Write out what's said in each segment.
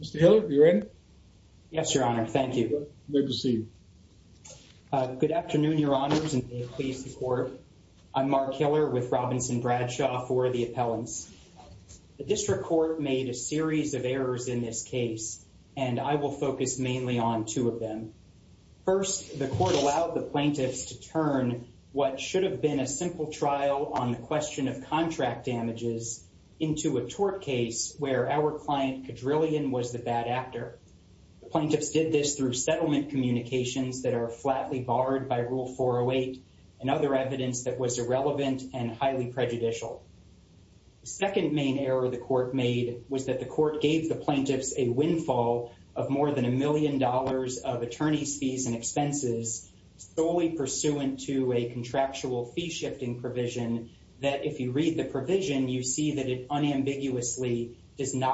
Mr. Hiller, are you ready? Yes, Your Honor. Thank you. Good to see you. Good afternoon, Your Honors, and may it please the Court. I'm Mark Hiller with Robinson Bradshaw for the appellants. The District Court made a series of errors in this case, and I will focus mainly on two of them. First, the Court allowed the plaintiffs to turn what should have been a simple trial on the question of contract damages into a tort case where our client, Cadrillion, was the bad actor. The plaintiffs did this through settlement communications that are flatly barred by Rule 408 and other evidence that was irrelevant and highly prejudicial. The second main error the Court made was that the Court gave the plaintiffs a windfall of more than a million dollars of attorneys' fees and expenses solely pursuant to a contractual fee shifting provision that, if you read the provision, you see that it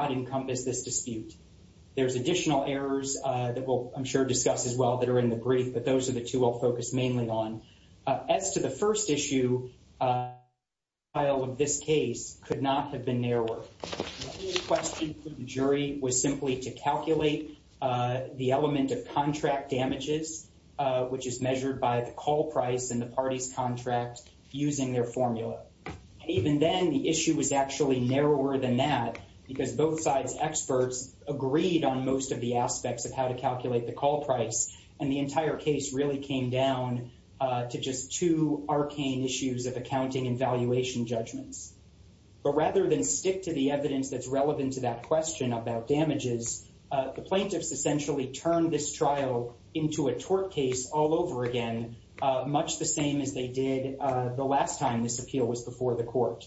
encompassed this dispute. There's additional errors that we'll, I'm sure, discuss as well that are in the brief, but those are the two I'll focus mainly on. As to the first issue, the trial of this case could not have been narrower. The question for the jury was simply to calculate the element of contract damages, which is measured by the call price in the party's contract using their formula. Even then, the issue was actually narrower than that because both sides' experts agreed on most of the aspects of how to calculate the call price, and the entire case really came down to just two arcane issues of accounting and valuation judgments. But rather than stick to the evidence that's relevant to that question about damages, the plaintiffs essentially turned this trial into a tort case all over again, much the same as they did the last time this appeal was before the Court.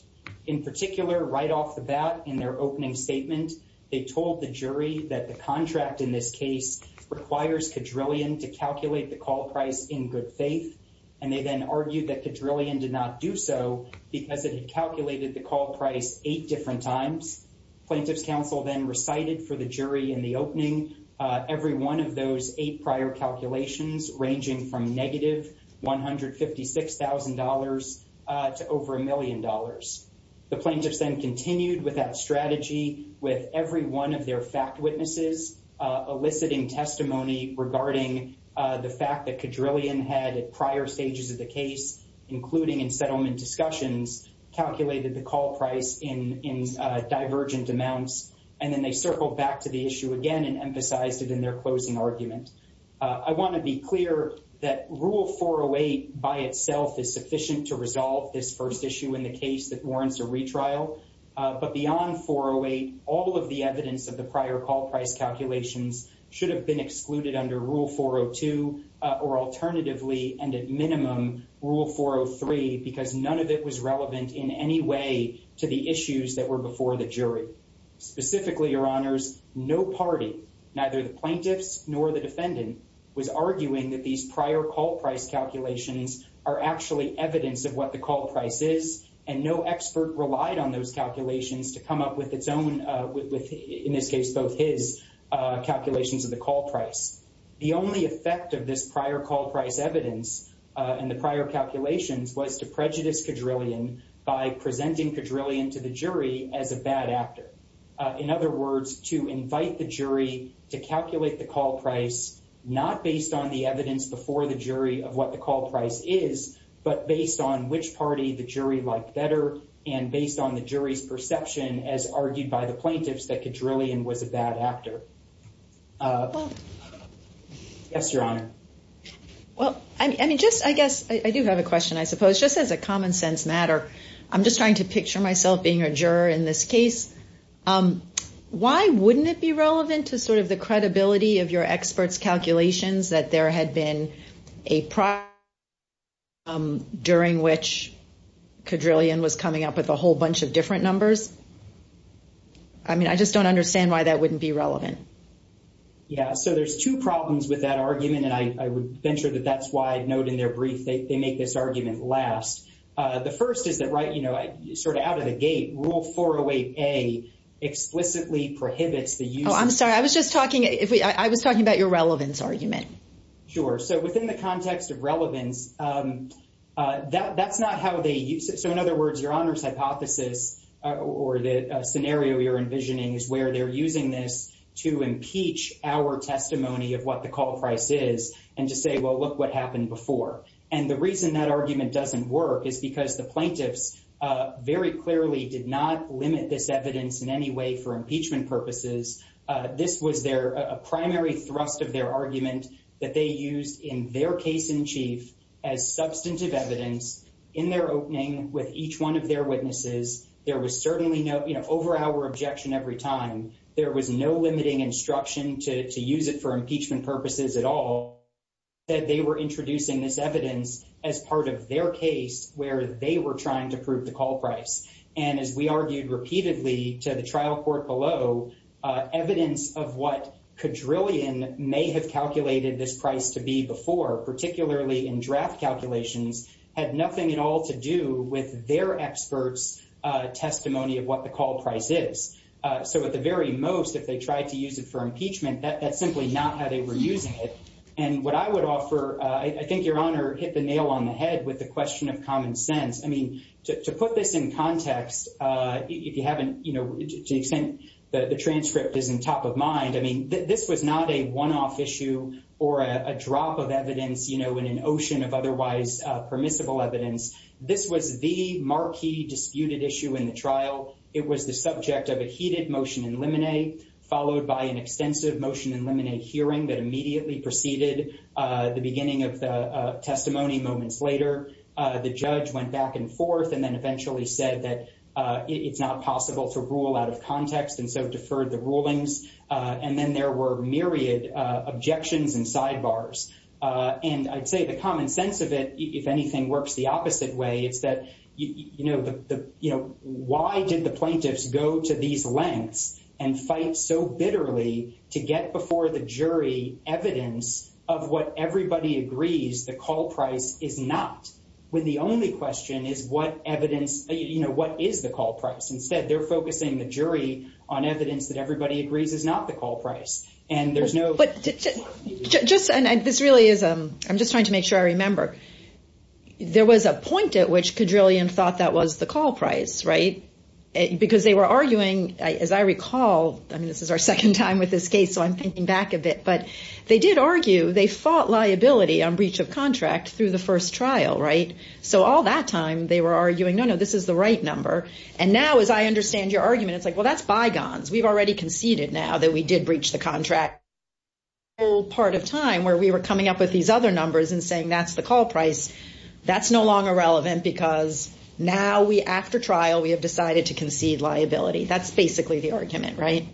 In particular, right off the bat in their opening statement, they told the jury that the contract in this case requires Kedrillion to calculate the call price in good faith, and they then argued that Kedrillion did not do so because it had calculated the call price eight different times. Plaintiffs' counsel then recited for the jury in the opening every one of those eight prior calculations ranging from negative $156,000 to over a million dollars. The plaintiffs then continued with that strategy with every one of their fact witnesses eliciting testimony regarding the fact that Kedrillion had at prior stages of the case, including in settlement discussions, calculated the call price in divergent amounts, and then they circled back to the issue again and emphasized it in their by itself is sufficient to resolve this first issue in the case that warrants a retrial, but beyond 408, all of the evidence of the prior call price calculations should have been excluded under Rule 402 or alternatively, and at minimum, Rule 403 because none of it was relevant in any way to the issues that were before the jury. Specifically, Your Honors, no party, neither the plaintiffs nor the defendant, was arguing that these prior call price calculations are actually evidence of what the call price is, and no expert relied on those calculations to come up with its own, in this case, both his calculations of the call price. The only effect of this prior call price evidence and the prior calculations was to prejudice Kedrillion by presenting Kedrillion to the jury as a bad actor. In other words, to invite the jury to calculate the call price not based on the evidence before the jury of what the call price is, but based on which party the jury liked better and based on the jury's perception as argued by the plaintiffs that Kedrillion was a bad actor. Yes, Your Honor. Well, I mean, just, I guess, I do have a question, I suppose, just as a common sense matter. I'm just trying to picture myself being a juror in this case. Why wouldn't it be relevant to sort of the credibility of your experts' calculations that there had been a prior, during which Kedrillion was coming up with a whole bunch of different numbers? I mean, I just don't understand why that wouldn't be relevant. Yeah, so there's two problems with that argument, and I would venture that that's why, note in their brief, they make this argument last. The first is that, right, you know, sort of out of the gate, Rule 408A explicitly prohibits the use of- Oh, I'm sorry. I was just talking, I was talking about your relevance argument. Sure. So within the context of relevance, that's not how they use it. So in other words, Your Honor's hypothesis or the scenario you're envisioning is where they're using this to impeach our testimony of what the call price is and to say, well, look what happened before. And the reason that argument doesn't work is because the plaintiffs very clearly did not limit this evidence in any way for impeachment purposes. This was their primary thrust of their argument that they used in their case in chief as substantive evidence in their opening with each one of their witnesses. There was certainly no, you know, over our objection every time, there was no limiting instruction to use it for impeachment purposes at all, that they were introducing this evidence as part of their case where they were trying to prove the call price. And as we argued repeatedly to the trial court below, evidence of what quadrillion may have calculated this price to be before, particularly in draft calculations, had nothing at all to do with their experts' testimony of what the call price is. So at the very most, if they tried to use it for impeachment, that's simply not how they were using it. And what I would offer, I think Your Honor hit the nail on the head with the question of common sense. I mean, to put this in context, if you haven't, you know, to the extent that the transcript is in top of mind, I mean, this was not a one-off issue or a drop of evidence, you know, in an ocean of otherwise permissible evidence. This was the marquee disputed issue in the trial. It was the subject of a heated motion in limine, followed by an extensive motion in limine hearing that immediately preceded the beginning of the testimony moments later. The judge went back and forth and then eventually said that it's not possible to rule out of context and so deferred the rulings. And then there were myriad objections and sidebars. And I'd say the common sense of it, if anything works the opposite way, it's that, you know, the, you know, why did the plaintiffs go to these lengths and fight so bitterly to get before the jury evidence of what everybody agrees the call price is not? When the only question is what evidence, you know, what is the call price? Instead, they're focusing the jury on evidence that everybody agrees is not the call price. And there's no- But just, and this really is, I'm just trying to make sure I remember, there was a point at which Kedrillian thought that was the call price, right? Because they were arguing, as I recall, I mean, this is our second time with this case, so I'm thinking back a bit. But they did argue, they fought liability on breach of contract through the first trial, right? So all that time they were arguing, no, no, this is the right number. And now, as I understand your argument, it's like, well, that's bygones. We've already conceded now that we did breach the contract. The whole part of time where we were coming up with these other numbers and saying that's the call price, that's no longer relevant because now we, after trial, we have decided to concede liability. That's basically the argument, right?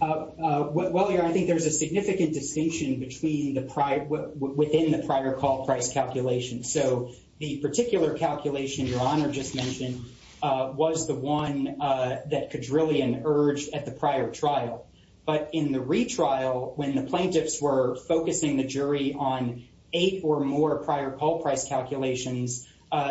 Well, I think there's a significant distinction between the prior, within the prior call price calculation. So the particular calculation your Honor just mentioned was the one that Kedrillian urged at the prior trial. But in the retrial, when the plaintiffs were focusing the jury on eight or more prior call price calculations,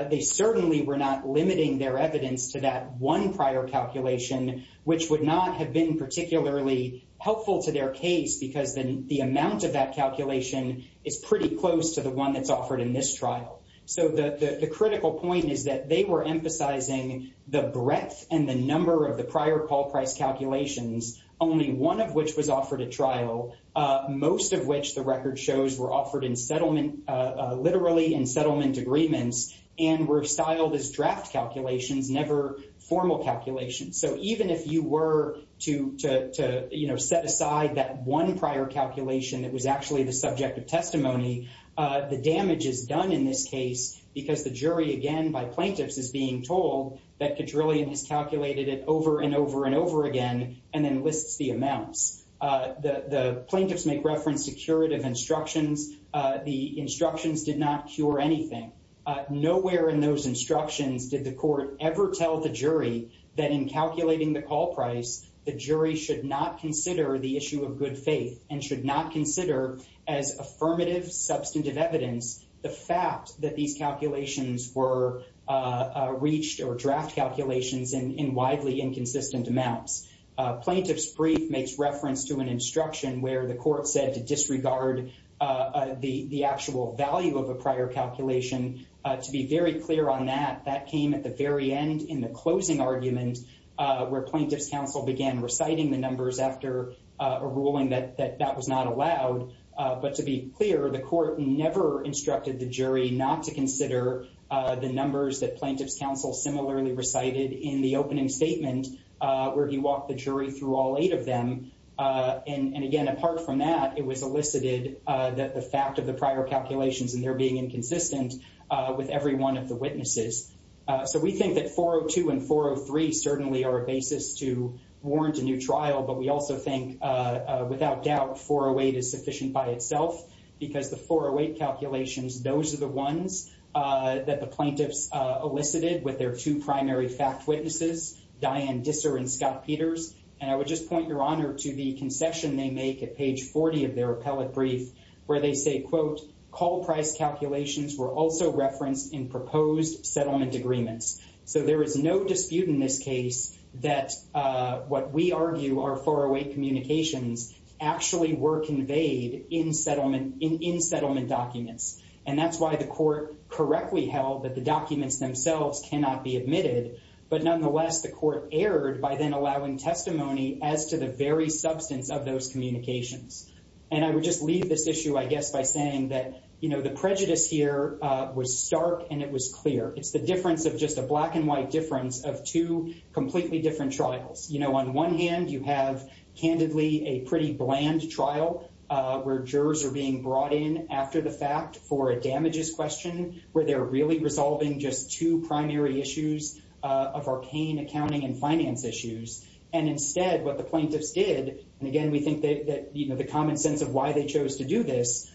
they certainly were not limiting their evidence to that one prior calculation, which would not have been particularly helpful to their case because then the amount of that calculation is pretty close to the one that's offered in this trial. So the critical point is that they were emphasizing the breadth and the number of prior call price calculations, only one of which was offered at trial, most of which the record shows were offered in settlement, literally in settlement agreements, and were styled as draft calculations, never formal calculations. So even if you were to, you know, set aside that one prior calculation that was actually the subject of testimony, the damage is done in this case because the jury, again, by plaintiffs is being told that Kedrillian has calculated it over and over and over again, and then lists the amounts. The plaintiffs make reference to curative instructions. The instructions did not cure anything. Nowhere in those instructions did the court ever tell the jury that in calculating the call price, the jury should not consider the issue of good faith and should not consider as affirmative substantive evidence the fact that these calculations were reached or draft calculations in widely inconsistent amounts. Plaintiff's brief makes reference to an instruction where the court said to disregard the actual value of a prior calculation. To be very clear on that, that came at the very end in the closing argument where plaintiff's counsel began reciting the numbers after a ruling that that was not allowed. But to be clear, the court never instructed the jury not to consider the numbers that plaintiff's counsel similarly recited in the opening statement where he walked the jury through all eight of them. And again, apart from that, it was elicited that the fact of the prior calculations and their being inconsistent with every one of the witnesses. So we think that 402 and 403 certainly are a basis to warrant a new trial, but we also think without doubt 408 is sufficient by itself because the 408 calculations, those are the ones that the plaintiffs elicited with their two primary fact witnesses, Diane Disser and Scott Peters. And I would just point your honor to the concession they make at page 40 of their appellate where they say, quote, call price calculations were also referenced in proposed settlement agreements. So there is no dispute in this case that what we argue are 408 communications actually were conveyed in settlement documents. And that's why the court correctly held that the documents themselves cannot be admitted, but nonetheless the court erred by then allowing testimony as to the very substance of those communications. And I would just leave this issue, I guess, by saying that the prejudice here was stark and it was clear. It's the difference of just a black and white difference of two completely different trials. On one hand, you have candidly a pretty bland trial where jurors are being brought in after the fact for a damages question where they're really resolving just two primary issues of arcane accounting and instead what the plaintiffs did, and again, we think that the common sense of why they chose to do this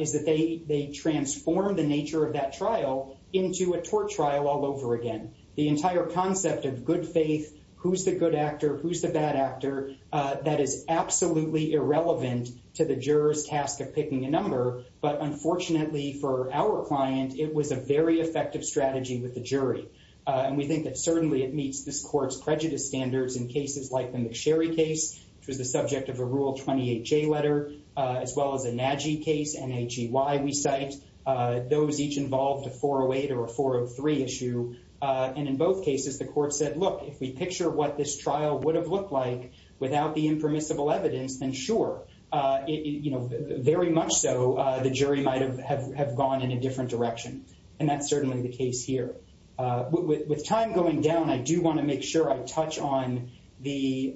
is that they transformed the nature of that trial into a tort trial all over again. The entire concept of good faith, who's the good actor, who's the bad actor, that is absolutely irrelevant to the juror's task of picking a number. But unfortunately for our client, it was a very effective strategy with the jury. And we think that certainly it meets this court's prejudice standards in cases like the McSherry case, which was the subject of a Rule 28J letter, as well as a Nagy case, N-H-E-Y, we cite. Those each involved a 408 or a 403 issue. And in both cases, the court said, look, if we picture what this trial would have looked like without the impermissible evidence, then sure, very much so the jury might have gone in a different direction. And that's certainly the case here. With time going down, I do want to make sure I touch on the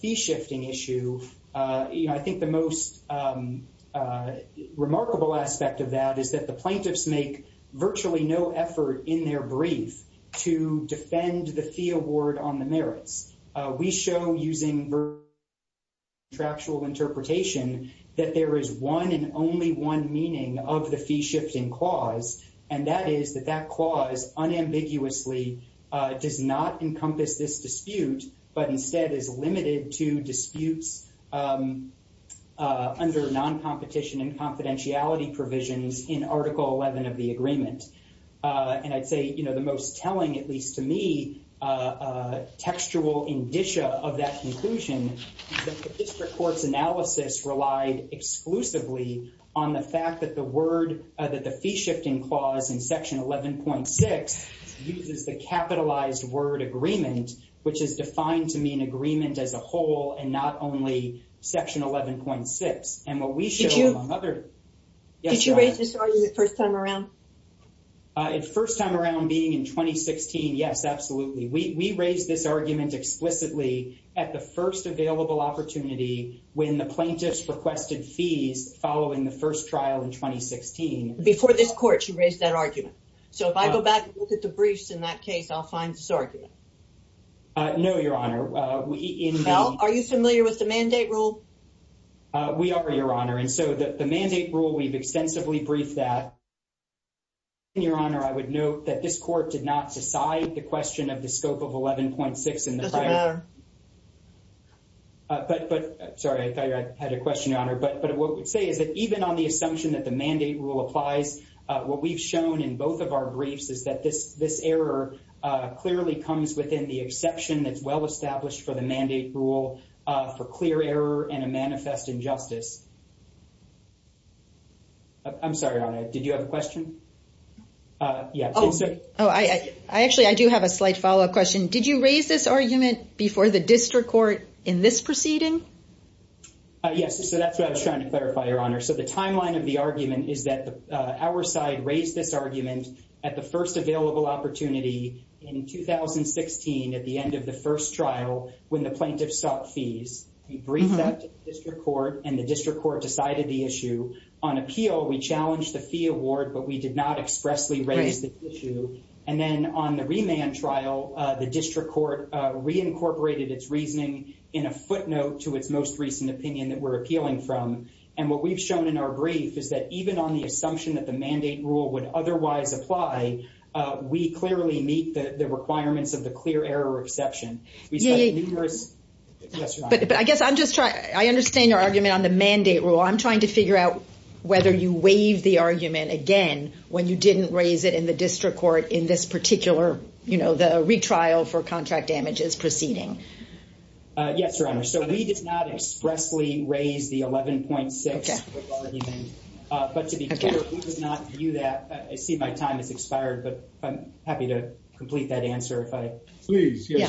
fee shifting issue. I think the most remarkable aspect of that is that the plaintiffs make virtually no effort in their brief to defend the fee award on the merits. We show using virtual interpretation that there is one and only one meaning of the fee shifting clause, and that is that that clause unambiguously does not encompass this dispute, but instead is limited to disputes under non-competition and confidentiality provisions in Article 11 of the District Court's analysis relied exclusively on the fact that the word that the fee shifting clause in Section 11.6 uses the capitalized word agreement, which is defined to mean agreement as a whole and not only Section 11.6. And what we show among other... Did you raise this argument first time around? First time around being in 2016, yes, absolutely. We raised this argument explicitly at the first available opportunity when the plaintiffs requested fees following the first trial in 2016. Before this court, you raised that argument. So if I go back and look at the briefs in that case, I'll find this argument. No, Your Honor. Are you familiar with the mandate rule? We are, Your Honor. And so the mandate rule, we've extensively briefed that. Your Honor, I would note that this court did not decide the question of the scope of 11.6 in the prior... But, sorry, I thought you had a question, Your Honor. But what we say is that even on the assumption that the mandate rule applies, what we've shown in both of our briefs is that this error clearly comes within the exception that's well-established for the mandate rule for clear error and a manifest injustice. I'm sorry, Your Honor. Did you have a question? Yeah. Oh, actually, I do have a slight follow-up question. Did you raise this argument before the district court in this proceeding? Yes. So that's what I was trying to clarify, Your Honor. So the timeline of the argument is that our side raised this argument at the first available opportunity in 2016 at the end of the first trial when the plaintiffs sought fees. We briefed that to the district court, and the district court decided the issue. On appeal, we challenged the fee award, but we did not expressly raise the issue. And then on the reincorporated its reasoning in a footnote to its most recent opinion that we're appealing from. And what we've shown in our brief is that even on the assumption that the mandate rule would otherwise apply, we clearly meet the requirements of the clear error exception. We studied numerous... But I guess I'm just trying... I understand your argument on the mandate rule. I'm trying to figure out whether you waive the argument again when you didn't raise it in the district court in this proceeding. Yes, Your Honor. So we did not expressly raise the 11.6 with argument. But to be clear, we did not view that... I see my time has expired, but I'm happy to complete that answer if I... Please. Yeah.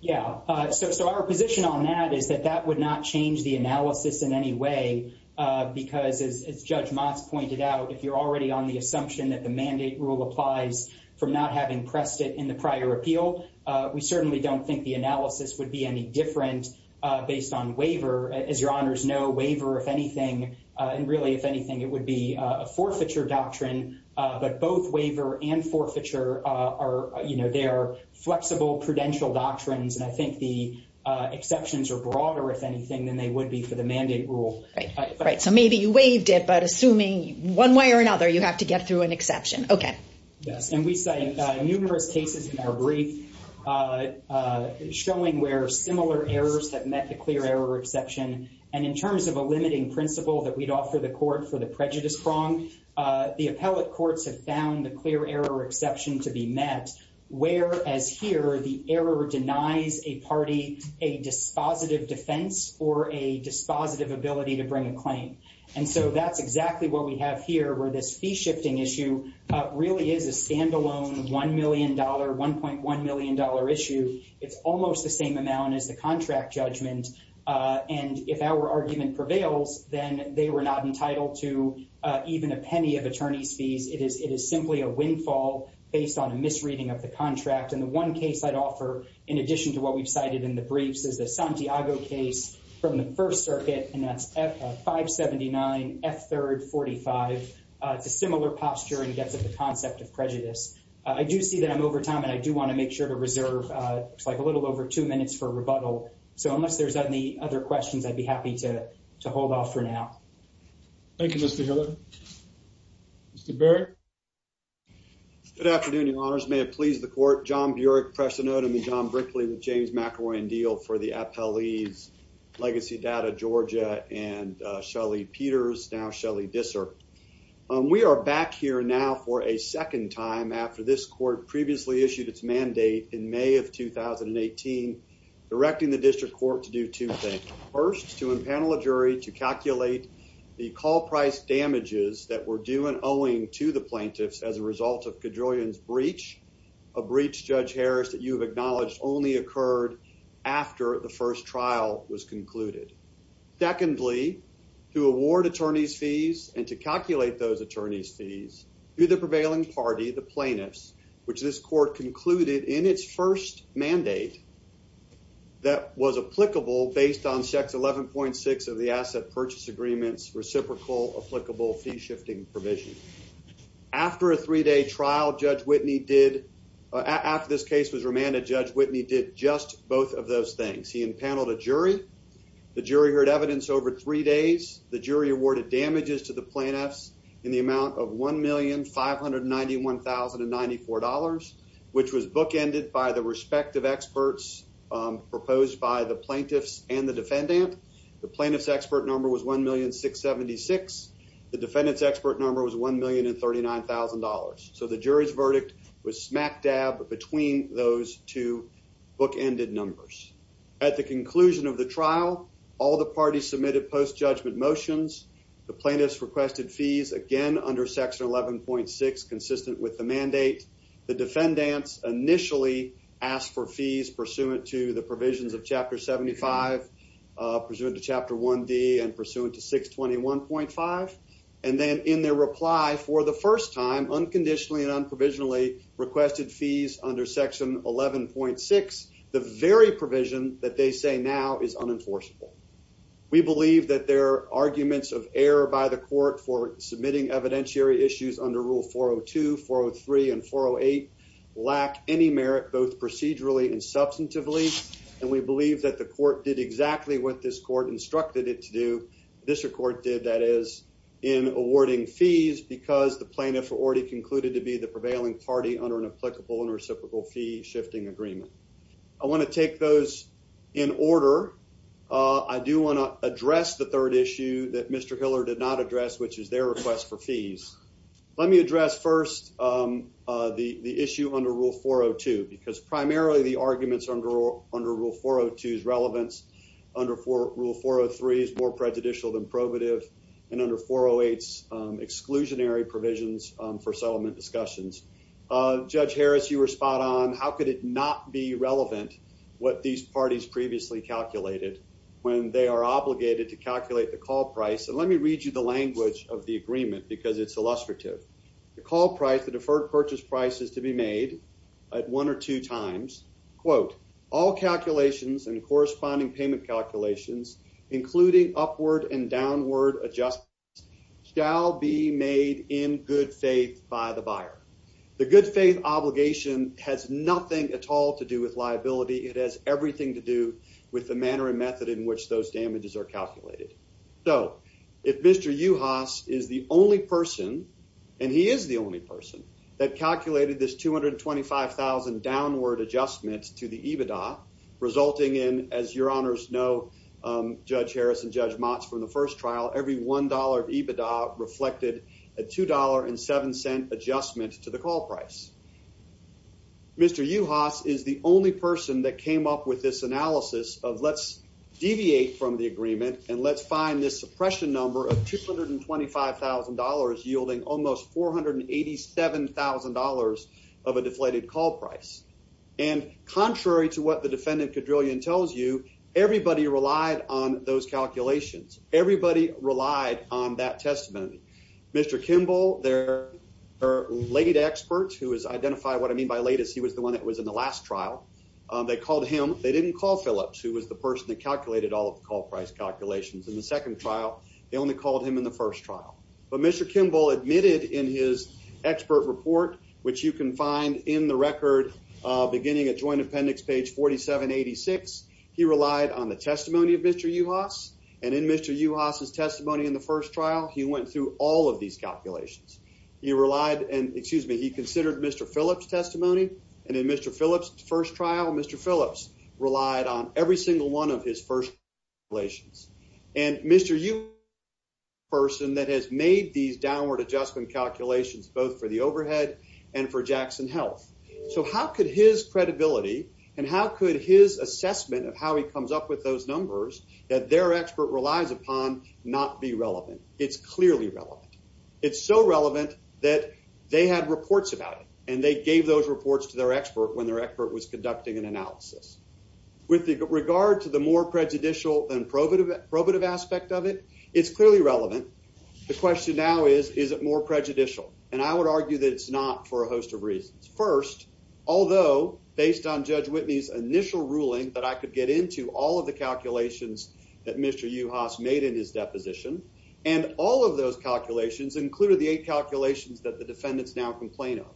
Yeah. So our position on that is that that would not change the analysis in any way, because as Judge Motz pointed out, if you're already on the assumption that the mandate rule applies from not having pressed it in the prior appeal, we certainly don't think the analysis would be any different based on waiver. As Your Honors know, waiver, if anything, and really, if anything, it would be a forfeiture doctrine. But both waiver and forfeiture are... They are flexible prudential doctrines. And I think the exceptions are broader, if anything, than they would be for the mandate rule. Right. So maybe you waived it, but assuming one way or another, you have to get through an exception. Okay. Yes. And we cite numerous cases in our brief showing where similar errors have met the clear error exception. And in terms of a limiting principle that we'd offer the court for the prejudice prong, the appellate courts have found the clear error exception to be met, whereas here, the error denies a party a dispositive defense or dispositive ability to bring a claim. And so that's exactly what we have here, where this fee shifting issue really is a standalone $1 million, $1.1 million issue. It's almost the same amount as the contract judgment. And if our argument prevails, then they were not entitled to even a penny of attorney's fees. It is simply a windfall based on a misreading of the contract. And the one case I'd offer, in addition to what we've cited in the briefs, is the Santiago case from the First Circuit, and that's F579, F3rd 45. It's a similar posture and gets at the concept of prejudice. I do see that I'm over time, and I do want to make sure to reserve a little over two minutes for rebuttal. So unless there's any other questions, I'd be happy to hold off for now. Thank you, Mr. Hiller. Mr. Barrett? Good afternoon, Your Honors. May it please the court, John Burick, and John Brickley with James McElroy and Diehl for the Appellee's Legacy Data Georgia and Shelly Peters, now Shelly Disser. We are back here now for a second time after this court previously issued its mandate in May of 2018, directing the district court to do two things. First, to impanel a jury to calculate the call price damages that were due and owing to the plaintiffs as a result of Kajolian's breach, a breach, Judge Harris, that you have acknowledged only occurred after the first trial was concluded. Secondly, to award attorneys' fees and to calculate those attorneys' fees to the prevailing party, the plaintiffs, which this court concluded in its first mandate that was applicable based on Section 11.6 of the Asset Purchase Agreement's trial. After this case was remanded, Judge Whitney did just both of those things. He impaneled a jury. The jury heard evidence over three days. The jury awarded damages to the plaintiffs in the amount of $1,591,094, which was bookended by the respective experts proposed by the plaintiffs and the defendant. The plaintiff's expert number was $1,000,676. The defendant's expert number was $1,039,000. So the jury's verdict was smack dab between those two bookended numbers. At the conclusion of the trial, all the parties submitted post-judgment motions. The plaintiffs requested fees again under Section 11.6 consistent with the mandate. The defendants initially asked for fees pursuant to the provisions of Chapter 75, pursuant to Chapter 1D, and pursuant to 621.5. And then in their reply for the first time, unconditionally and unprovisionally, requested fees under Section 11.6, the very provision that they say now is unenforceable. We believe that their arguments of error by the court for submitting evidentiary issues under Rule 402, 403, and 408 lack any merit, both procedurally and substantively. And we believe that the court did exactly what this court instructed it to do, this court did, that is, in awarding fees because the plaintiff already concluded to be the prevailing party under an applicable and reciprocal fee shifting agreement. I want to take those in order. I do want to address the third issue that Mr. Hiller did not address, which is their request for fees. Let me address first the issue under Rule 402, because primarily the arguments under Rule 402's relevance under Rule 403 is more prejudicial than probative, and under 408's exclusionary provisions for settlement discussions. Judge Harris, you were spot on. How could it not be relevant what these parties previously calculated when they are obligated to calculate the call price, and let me read you the language of the agreement because it's illustrative. The call price, the deferred purchase price, is to be made at one or two times, quote, all calculations and corresponding payment calculations, including upward and downward adjustments, shall be made in good faith by the buyer. The good faith obligation has nothing at all to do with liability. It has everything to do with the manner and method in which those damages are calculated. So, if Mr. Uhas is the only person, and he is the only person, that calculated this $225,000 downward adjustment to the EBITDA, resulting in, as your honors know, Judge Harris and Judge Motz from the first trial, every $1 of EBITDA reflected a $2.07 adjustment to the call price. Mr. Uhas is the only person that came up with this analysis of let's deviate from the agreement and let's find this suppression number of $225,000, yielding almost $487,000 of a deflated call price. And contrary to what the defendant, Kedrillion, tells you, everybody relied on those calculations. Everybody relied on that testimony. Mr. Kimball, their late expert who has identified what I mean by latest, he was the one that was in the last trial, they called him. They didn't call Phillips, who was the person that calculated all of the call price calculations. In the second trial, they only called him in the first trial. But Mr. Kimball admitted in his expert report, which you can find in the record beginning at Joint Appendix page 4786, he relied on the testimony of Mr. Uhas. And in Mr. Uhas' testimony in the first trial, he went through all of these calculations. He relied and, excuse me, he considered Mr. Phillips' testimony. And in Mr. Phillips' first trial, Mr. Phillips relied on every single one of his first relations. And Mr. Uhas is the person that has made these downward adjustment calculations both for the overhead and for Jackson Health. So how could his credibility and how could his assessment of how he comes up with those numbers that their expert relies upon not be relevant? It's clearly relevant. It's so relevant that they had reports about it, and they gave those reports to their expert when their expert was conducting an analysis. With regard to the more prejudicial and probative aspect of it, it's clearly relevant. The question now is, is it more prejudicial? And I would argue that it's not for a host of reasons. First, although based on Judge Whitney's initial ruling that I could get into all of the calculations that Mr. Uhas made in his deposition, and all of those calculations included the eight calculations that the defendants now complain of.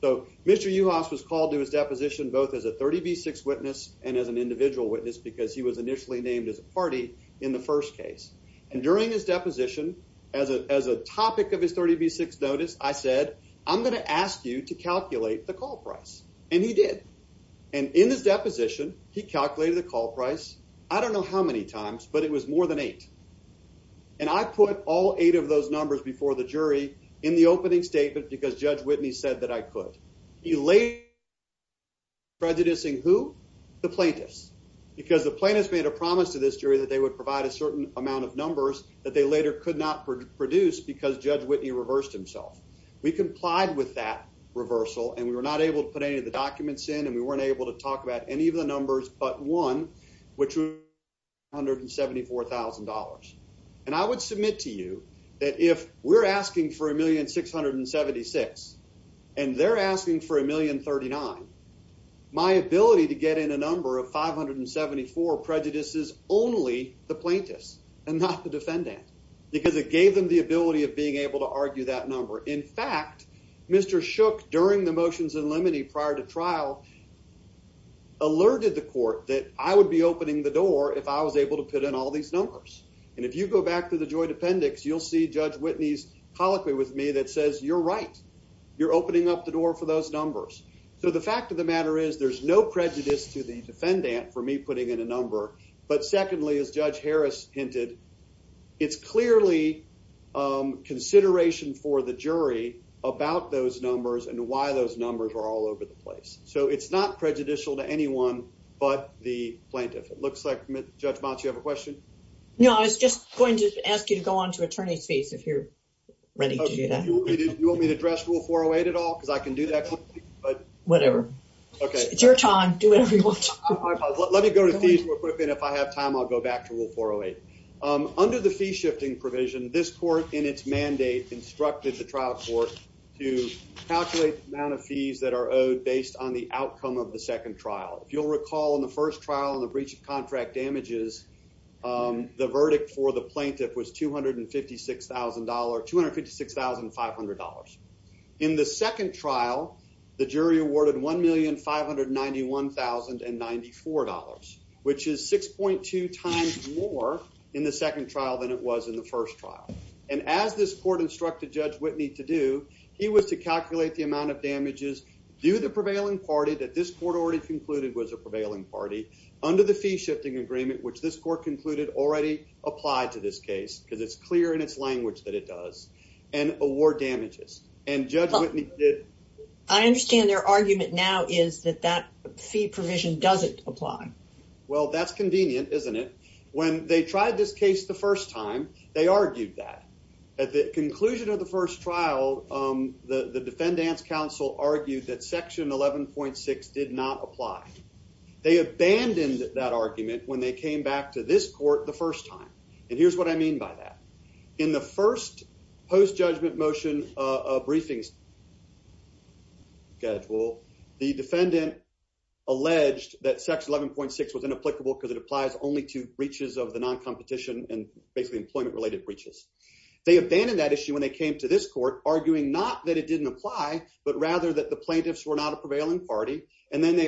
So Mr. Uhas was called to his deposition both as a 30B6 witness and as an individual witness because he was initially named as a party in the first case. And during his deposition, as a topic of his 30B6 notice, I said, I'm going to ask you to calculate the call price. And he did. And in his deposition, he calculated the call price, I don't know how many times, but it was more than eight. And I put all eight of those numbers before the jury in the opening statement because Judge Whitney said that I could. He later, prejudicing who? The plaintiffs. Because the plaintiffs made a promise to this jury that they would provide a certain amount of numbers that they later could not produce because Judge Whitney reversed himself. We complied with that reversal, and we were not able to put any of the documents in, and we weren't able to talk about any of the $4,000. And I would submit to you that if we're asking for a 1,676,000 and they're asking for 1,039,000, my ability to get in a number of 574 prejudices only the plaintiffs and not the defendant because it gave them the ability of being able to argue that number. In fact, Mr. Shook, during the motions in limine prior to trial, alerted the court that I would be opening the door if I was able to put in all these numbers. And if you go back to the joint appendix, you'll see Judge Whitney's colloquy with me that says, you're right. You're opening up the door for those numbers. So the fact of the matter is there's no prejudice to the defendant for me putting in a number. But secondly, as Judge Harris hinted, it's clearly consideration for the jury about those numbers and why those numbers are all over the place. So it's not prejudicial to anyone but the plaintiff. It looks like, Judge Motz, you have a question? No, I was just going to ask you to go on to attorney's fees if you're ready to do that. You want me to address Rule 408 at all because I can do that quickly? But whatever. Okay. It's your time. Do whatever you want. Let me go to fees real quick and if I have time, I'll go back to Rule 408. Under the fee shifting provision, this court in its mandate instructed the trial court to calculate the amount of fees that are owed based on the outcome of the first trial and the breach of contract damages. The verdict for the plaintiff was $256,500. In the second trial, the jury awarded $1,591,094, which is 6.2 times more in the second trial than it was in the first trial. And as this court instructed Judge Whitney to do, he was to calculate the amount of damages due to the prevailing party that this court already concluded was a prevailing party under the fee shifting agreement, which this court concluded already applied to this case because it's clear in its language that it does, and award damages. I understand their argument now is that that fee provision doesn't apply. Well, that's convenient, isn't it? When they tried this case the first time, they argued that. At the conclusion of the first trial, the defendant's counsel argued that section 11.6 did not apply. They abandoned that argument when they came back to this court the first time. And here's what I mean by that. In the first post-judgment motion of briefings schedule, the defendant alleged that section 11.6 was inapplicable because it applies only to breaches of the non-competition and basically employment-related breaches. They abandoned that issue when they came to this court, arguing not that it didn't apply, but rather that the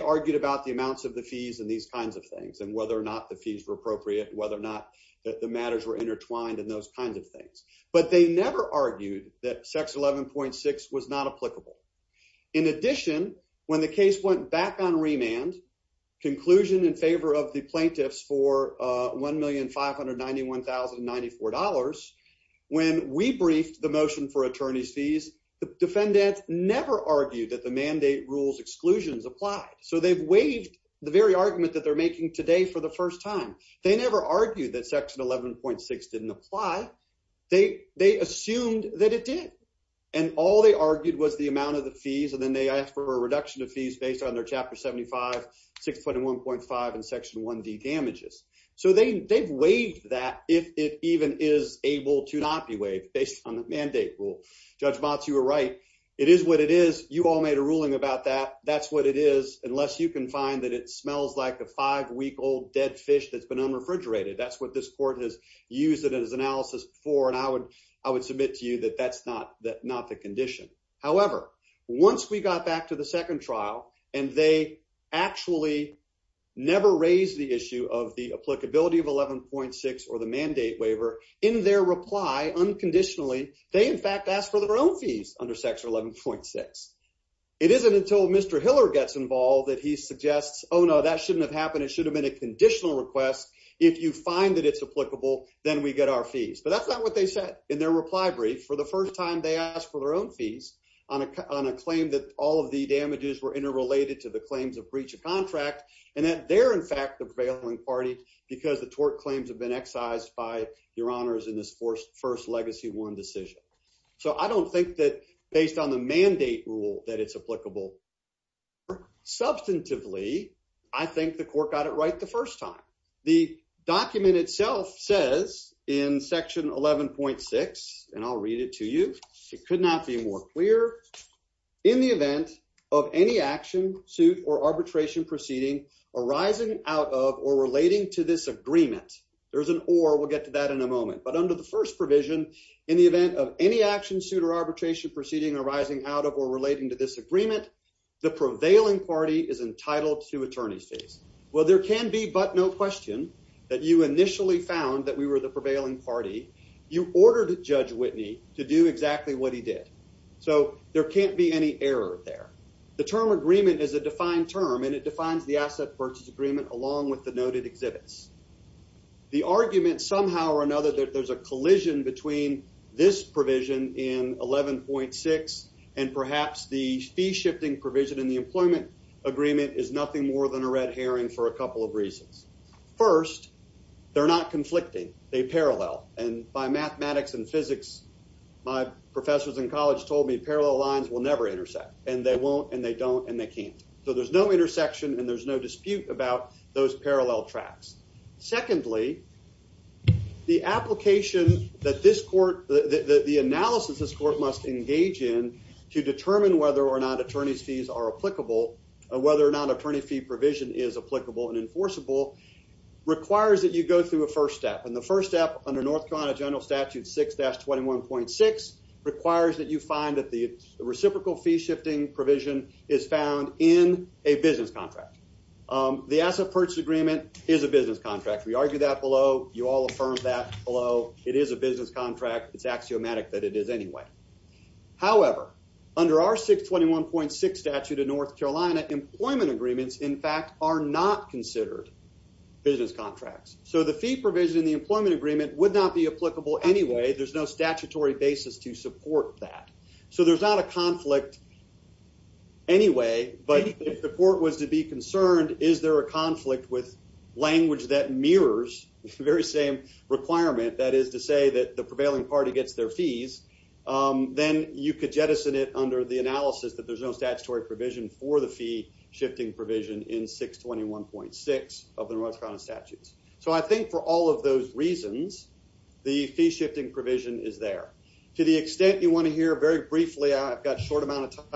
argued about the amounts of the fees and these kinds of things, and whether or not the fees were appropriate, whether or not the matters were intertwined, and those kinds of things. But they never argued that section 11.6 was not applicable. In addition, when the case went back on remand, conclusion in favor of the plaintiffs for $1,591,094, when we briefed the motion for they've waived the very argument that they're making today for the first time. They never argued that section 11.6 didn't apply. They assumed that it did. And all they argued was the amount of the fees, and then they asked for a reduction of fees based on their chapter 75, 6.1.5, and section 1D damages. So they've waived that if it even is able to not be waived based on the mandate rule. Judge Motz, you were right. It is what it is. You all made a ruling about that. That's what it is, unless you can find that it smells like a five-week-old dead fish that's been unrefrigerated. That's what this court has used it as analysis for, and I would submit to you that that's not the condition. However, once we got back to the second trial, and they actually never raised the issue of the applicability of 11.6 or the mandate waiver, in their reply, unconditionally, they in fact asked for their own fees under section 11.6. It isn't until Mr. Hiller gets involved that he suggests, oh, no, that shouldn't have happened. It should have been a conditional request. If you find that it's applicable, then we get our fees. But that's not what they said in their reply brief. For the first time, they asked for their own fees on a claim that all of the damages were interrelated to the claims of breach of contract, and that they're in fact the prevailing party because the tort claims have been excised by your honors in this first legacy one decision. So I don't think that based on the mandate rule that it's applicable. Substantively, I think the court got it right the first time. The document itself says in section 11.6, and I'll read it to you. It could not be more clear. In the event of any action, suit, or arbitration proceeding arising out of or relating to this agreement, there's an or. We'll get to that in a moment. But under the first provision, in the event of any action, suit, or arbitration proceeding arising out of or relating to this agreement, the prevailing party is entitled to attorney's fees. Well, there can be but no question that you initially found that we were the prevailing party. You ordered Judge Whitney to do exactly what he did. So there can't be any error there. The term agreement is a defined term, and it the argument somehow or another that there's a collision between this provision in 11.6 and perhaps the fee shifting provision in the employment agreement is nothing more than a red herring for a couple of reasons. First, they're not conflicting. They parallel. And by mathematics and physics, my professors in college told me parallel lines will never intersect, and they won't, and they don't, and they can't. So there's no intersection, and there's no dispute about those parallel tracks. Secondly, the application that this court, the analysis this court must engage in to determine whether or not attorney's fees are applicable, whether or not attorney fee provision is applicable and enforceable, requires that you go through a first step. And the first step under North Carolina General Statute 6-21.6 requires that you find the reciprocal fee shifting provision is found in a business contract. The asset purchase agreement is a business contract. We argue that below. You all affirm that below. It is a business contract. It's axiomatic that it is anyway. However, under our 6-21.6 statute in North Carolina, employment agreements, in fact, are not considered business contracts. So the fee provision in the employment agreement would not be applicable anyway. There's no statutory basis to support that. So there's not a conflict anyway, but if the court was to be concerned, is there a conflict with language that mirrors the very same requirement, that is to say that the prevailing party gets their fees, then you could jettison it under the analysis that there's no statutory provision for the fee shifting provision in 6-21.6 of the North Carolina statutes. So I think for all of those reasons, the fee shifting provision is there. To the extent you want to hear very briefly, I've got a short amount of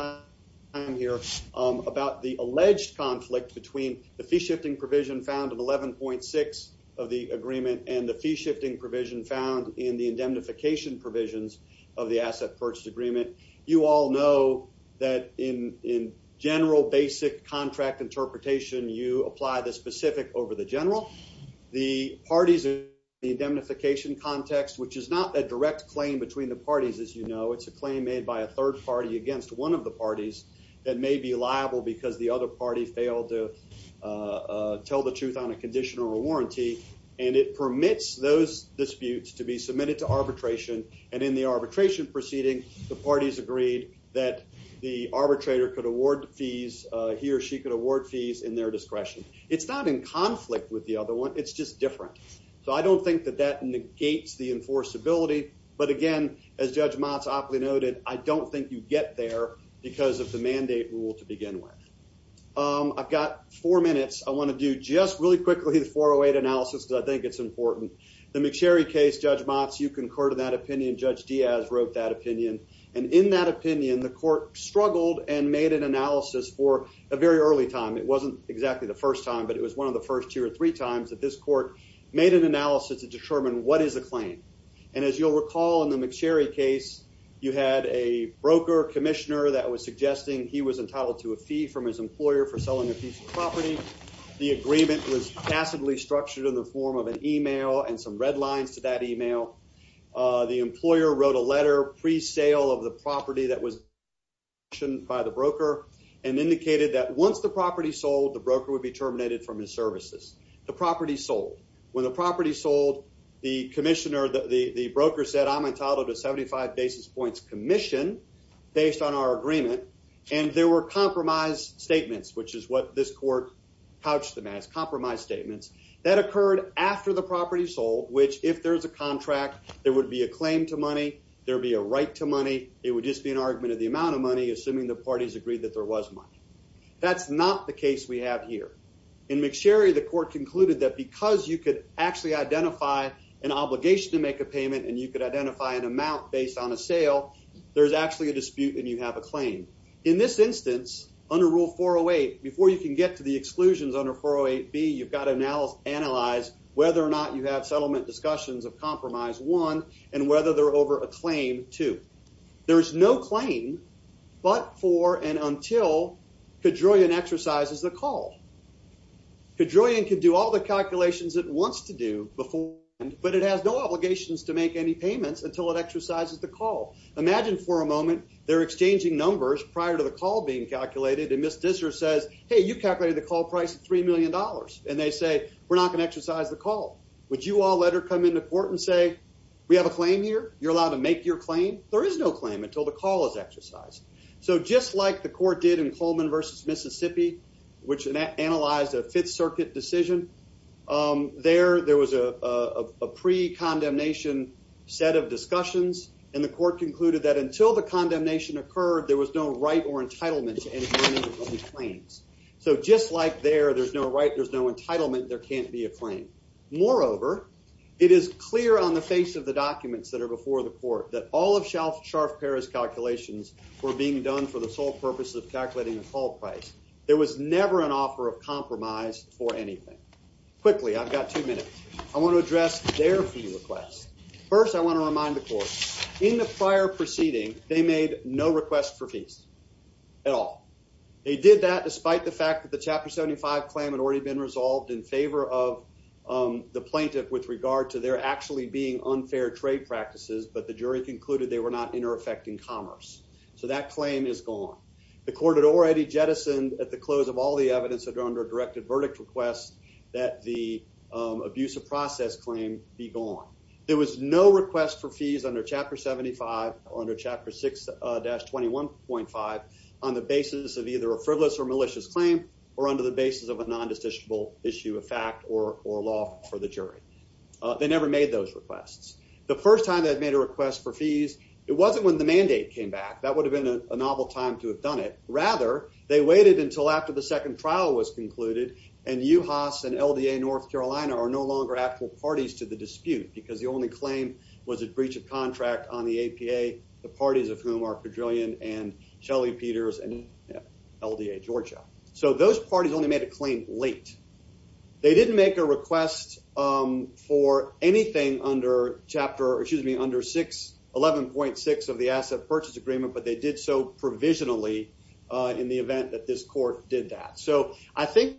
time here about the alleged conflict between the fee shifting provision found in 11.6 of the agreement and the fee shifting provision found in the indemnification provisions of the asset purchase agreement. You all know that in general basic contract interpretation, you apply the specific over the general. The parties in the indemnification context, which is not a direct claim between the parties as you know, it's a claim made by a third party against one of the parties that may be liable because the other party failed to tell the truth on a condition or a warranty, and it permits those disputes to be submitted to arbitration. And in the arbitration proceeding, the parties agreed that the arbitrator could award fees, he or she could award fees in their discretion. It's not in conflict with the other one, it's just different. So I don't think that that negates the enforceability. But again, as Judge Motz aptly noted, I don't think you get there because of the mandate rule to begin with. I've got four minutes. I want to do just really quickly the 408 analysis because I think it's important. The McSherry case, Judge Motz, you concur to that opinion. Judge Diaz wrote that opinion. And in that opinion, the court struggled and made an analysis for a very early time. It wasn't exactly the first time, but it was one of the first two or three times that this court made an analysis to determine what is the claim. And as you'll recall, in the McSherry case, you had a broker, commissioner that was suggesting he was entitled to a fee from his employer for selling a piece of property. The agreement was passively structured in the form of an email and some red lines to that email. The employer wrote a letter pre-sale of the property that was auctioned by the broker and indicated that once the property sold, the broker would be terminated from his services. The property sold. When the property sold, the commissioner, the broker said, I'm entitled to 75 basis points commission based on our agreement. And there were compromise statements, which is what this court couched them as, compromise statements. That occurred after the property sold, which if there's a contract, there would be a claim to money. There'd be a right to money. It would just be an argument of the amount of money, assuming the parties agreed that there was money. That's not the case we have here. In McSherry, the court concluded that because you could actually identify an obligation to make a payment and you could identify an amount based on a sale, there's actually a dispute and you have a claim. In this instance, under Rule 408, before you can get to the exclusions under 408B, you've got to analyze whether or not you have settlement discussions of Compromise 1 and whether they're over a claim 2. There's no claim but for and until Kedroian exercises the call. Kedroian can do all the calculations it wants to do before, but it has no obligations to make any payments until it exercises the call. Imagine for a moment they're exchanging numbers prior to the call being calculated and Ms. Disser says, hey, you calculated the call price of $3 million. And they say, we're not going to exercise the call. Would you all let come into court and say, we have a claim here? You're allowed to make your claim? There is no claim until the call is exercised. So just like the court did in Coleman versus Mississippi, which analyzed a Fifth Circuit decision, there was a pre-condemnation set of discussions, and the court concluded that until the condemnation occurred, there was no right or entitlement to any claims. So just like there, there's no right, there's no entitlement, there can't be a claim. Moreover, it is clear on the face of the documents that are before the court that all of Scharf-Perez's calculations were being done for the sole purpose of calculating the call price. There was never an offer of compromise for anything. Quickly, I've got two minutes. I want to address their fee request. First, I want to remind the court, in the prior proceeding, they made no request for fees at all. They did that despite the fact that the Chapter 75 claim had already been resolved in favor of the plaintiff with regard to there actually being unfair trade practices, but the jury concluded they were not inter-affecting commerce. So that claim is gone. The court had already jettisoned at the close of all the evidence that are under a directed verdict request that the abuse of process claim be gone. There was no request for fees under Chapter 75 or under Chapter 6-21.5 on the basis of either a frivolous or malicious claim or under the basis of a non-decisional issue of fact or law for the jury. They never made those requests. The first time they had made a request for fees, it wasn't when the mandate came back. That would have been a novel time to have done it. Rather, they waited until after the second trial was concluded, and UHAS and LDA North Carolina are no longer actual parties to the dispute because the only claim was a breach of contract on the APA, the parties of whom are so those parties only made a claim late. They didn't make a request for anything under Chapter 11.6 of the Asset Purchase Agreement, but they did so provisionally in the event that this court did that. So I think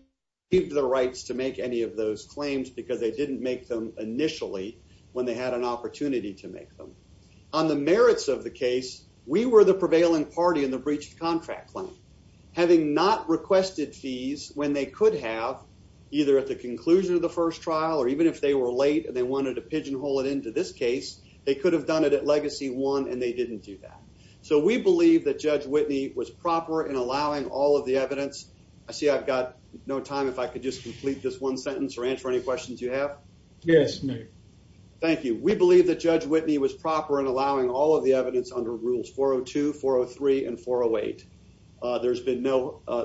they received the rights to make any of those claims because they didn't make them initially when they had an opportunity to make them. On the merits of the case, we were the prevailing party in the breach of contract claim. Having not requested fees when they could have, either at the conclusion of the first trial or even if they were late and they wanted to pigeonhole it into this case, they could have done it at Legacy 1 and they didn't do that. So we believe that Judge Whitney was proper in allowing all of the evidence. I see I've got no time if I could just complete this one sentence or answer any questions you have. Yes. Thank you. We believe that Judge Whitney was proper in allowing all of the evidence under Rules 402, 403 and 408.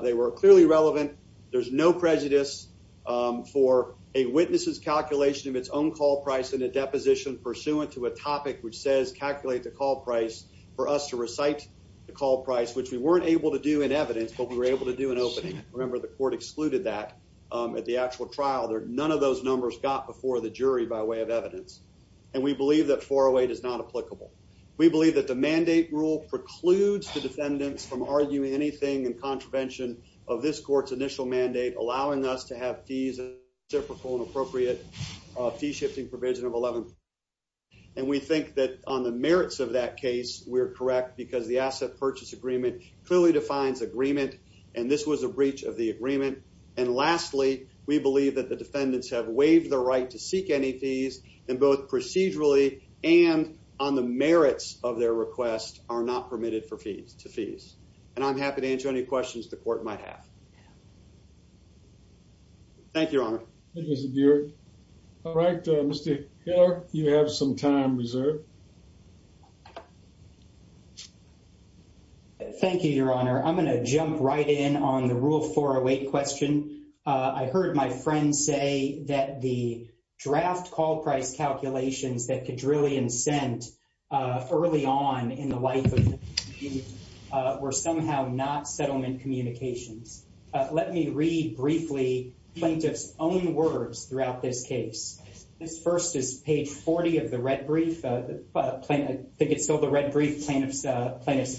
They were clearly relevant. There's no prejudice for a witness's calculation of its own call price in a deposition pursuant to a topic which says calculate the call price for us to recite the call price, which we weren't able to do in evidence, but we were able to do an opening. Remember, the court excluded that at the actual trial. None of those numbers got before the jury by way of evidence. And we believe that 408 is not applicable. We believe that the mandate rule precludes the defendants from arguing anything in contravention of this court's initial mandate, allowing us to have fees and appropriate fee shifting provision of 11%. And we think that on the merits of that case, we're correct because the asset purchase agreement clearly defines agreement. And this was a breach of the agreement. And lastly, we believe that the defendants have waived the right to seek any fees and both procedurally and on the merits of their request are not permitted to fees. And I'm happy to answer any questions the court might have. Thank you, Your Honor. Thank you, Mr. Buerk. All right, Mr. Hiller, you have some time reserved. Thank you, Your Honor. I'm going to jump right in on the Rule 408 question. I heard my friends say that the draft call price calculations that Kadrillion sent early on in the life of the plaintiff were somehow not settlement communications. Let me read briefly plaintiff's own words throughout this case. This first is page 40 of the red brief. I think it's still the red brief, plaintiff's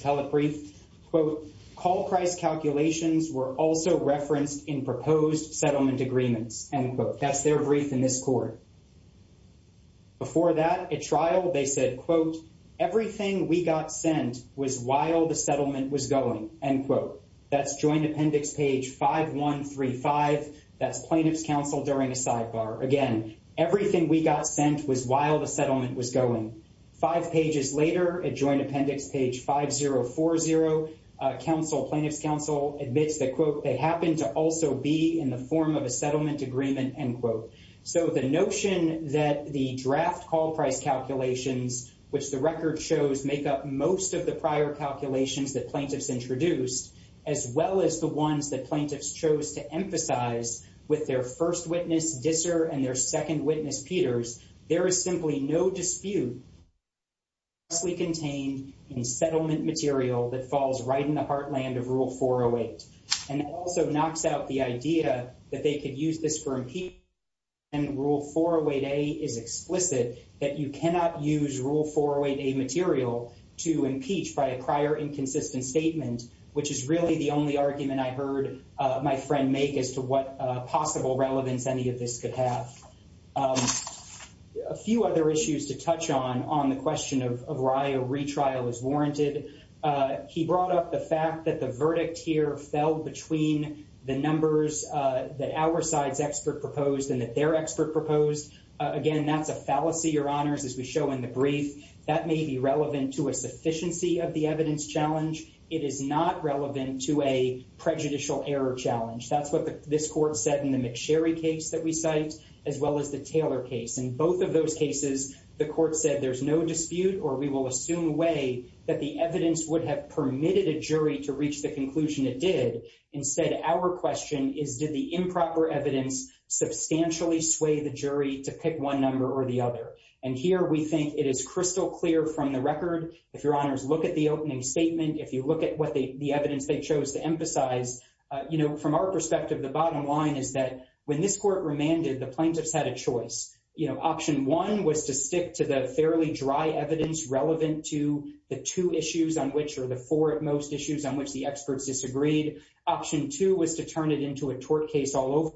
telebrief. Quote, call price calculations were also referenced in proposed settlement agreements. End quote. That's their brief in this court. Before that, at trial, they said, quote, everything we got sent was while the settlement was going. End quote. That's joint appendix page 5135. That's plaintiff's counsel during a sidebar. Again, everything we got sent was while the settlement was going. Five pages later, at joint appendix page 5040, plaintiff's counsel admits that, quote, they happen to also be in the form of a settlement agreement. End quote. So the notion that the draft call price calculations, which the record shows make up most of the prior calculations that plaintiffs introduced, as well as the ones that plaintiffs chose to emphasize with their first witness, Disser, and their second witness, Peters, there is simply no dispute that it's mostly contained in settlement material that falls right in the heartland of Rule 408. And it also knocks out the idea that they could use this for impeachment. And Rule 408A is explicit that you cannot use Rule 408A material to impeach by a prior inconsistent statement, which is really the only argument I heard my friend make as to what a few other issues to touch on on the question of why a retrial is warranted. He brought up the fact that the verdict here fell between the numbers that our side's expert proposed and that their expert proposed. Again, that's a fallacy, Your Honors, as we show in the brief. That may be relevant to a sufficiency of the evidence challenge. It is not relevant to a prejudicial error challenge. That's what this court said in the McSherry case that we cite, as well as the both of those cases, the court said there's no dispute or we will assume way that the evidence would have permitted a jury to reach the conclusion it did. Instead, our question is, did the improper evidence substantially sway the jury to pick one number or the other? And here we think it is crystal clear from the record, if Your Honors look at the opening statement, if you look at what the evidence they chose to emphasize, you know, from our perspective, the bottom line is that when this court remanded, the plaintiffs had a choice. You know, option one was to stick to the fairly dry evidence relevant to the two issues on which or the four at most issues on which the experts disagreed. Option two was to turn it into a tort case all over.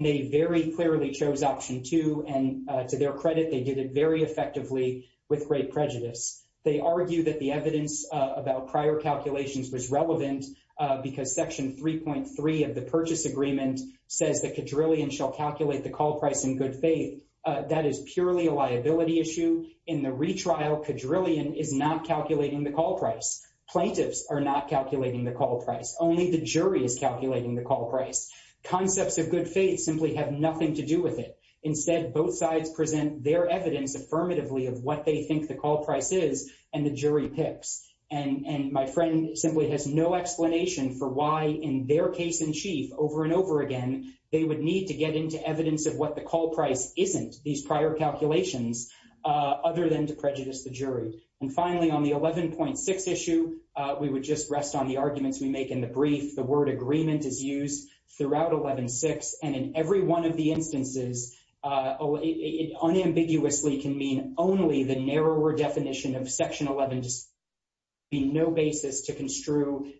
They very clearly chose option two, and to their credit, they did it very effectively with great prejudice. They argue that the evidence about prior calculations was relevant because Section 3.3 of the Purchase Agreement says the quadrillion shall calculate the call price in good faith. That is purely a liability issue. In the retrial, quadrillion is not calculating the call price. Plaintiffs are not calculating the call price. Only the jury is calculating the call price. Concepts of good faith simply have nothing to do with it. Instead, both sides present their evidence affirmatively of what they think the call price is and the jury picks. And my friend simply has no explanation for why, in their case in chief, over and over again, they would need to get into evidence of what the call price isn't, these prior calculations, other than to prejudice the jury. And finally, on the 11.6 issue, we would just rest on the arguments we make in the brief. The word agreement is used throughout 11.6, and in every one of the no basis to construe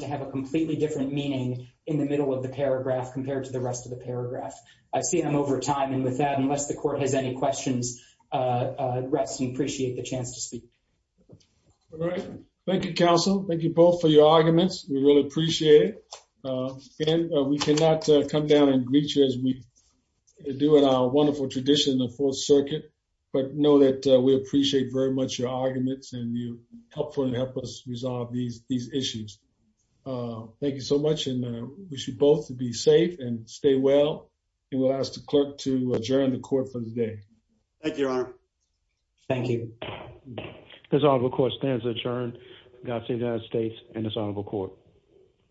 to have a completely different meaning in the middle of the paragraph compared to the rest of the paragraph. I've seen them over time, and with that, unless the court has any questions, rest and appreciate the chance to speak. All right. Thank you, counsel. Thank you both for your arguments. We really appreciate it. And we cannot come down and greet you as we do in our wonderful tradition of the Fourth Circuit, but know that we appreciate very much your arguments and you helpfully help us resolve these issues. Thank you so much. And we should both be safe and stay well. And we'll ask the clerk to adjourn the court for the day. Thank you, Your Honor. Thank you. This honorable court stands adjourned. God save the United States and this honorable court.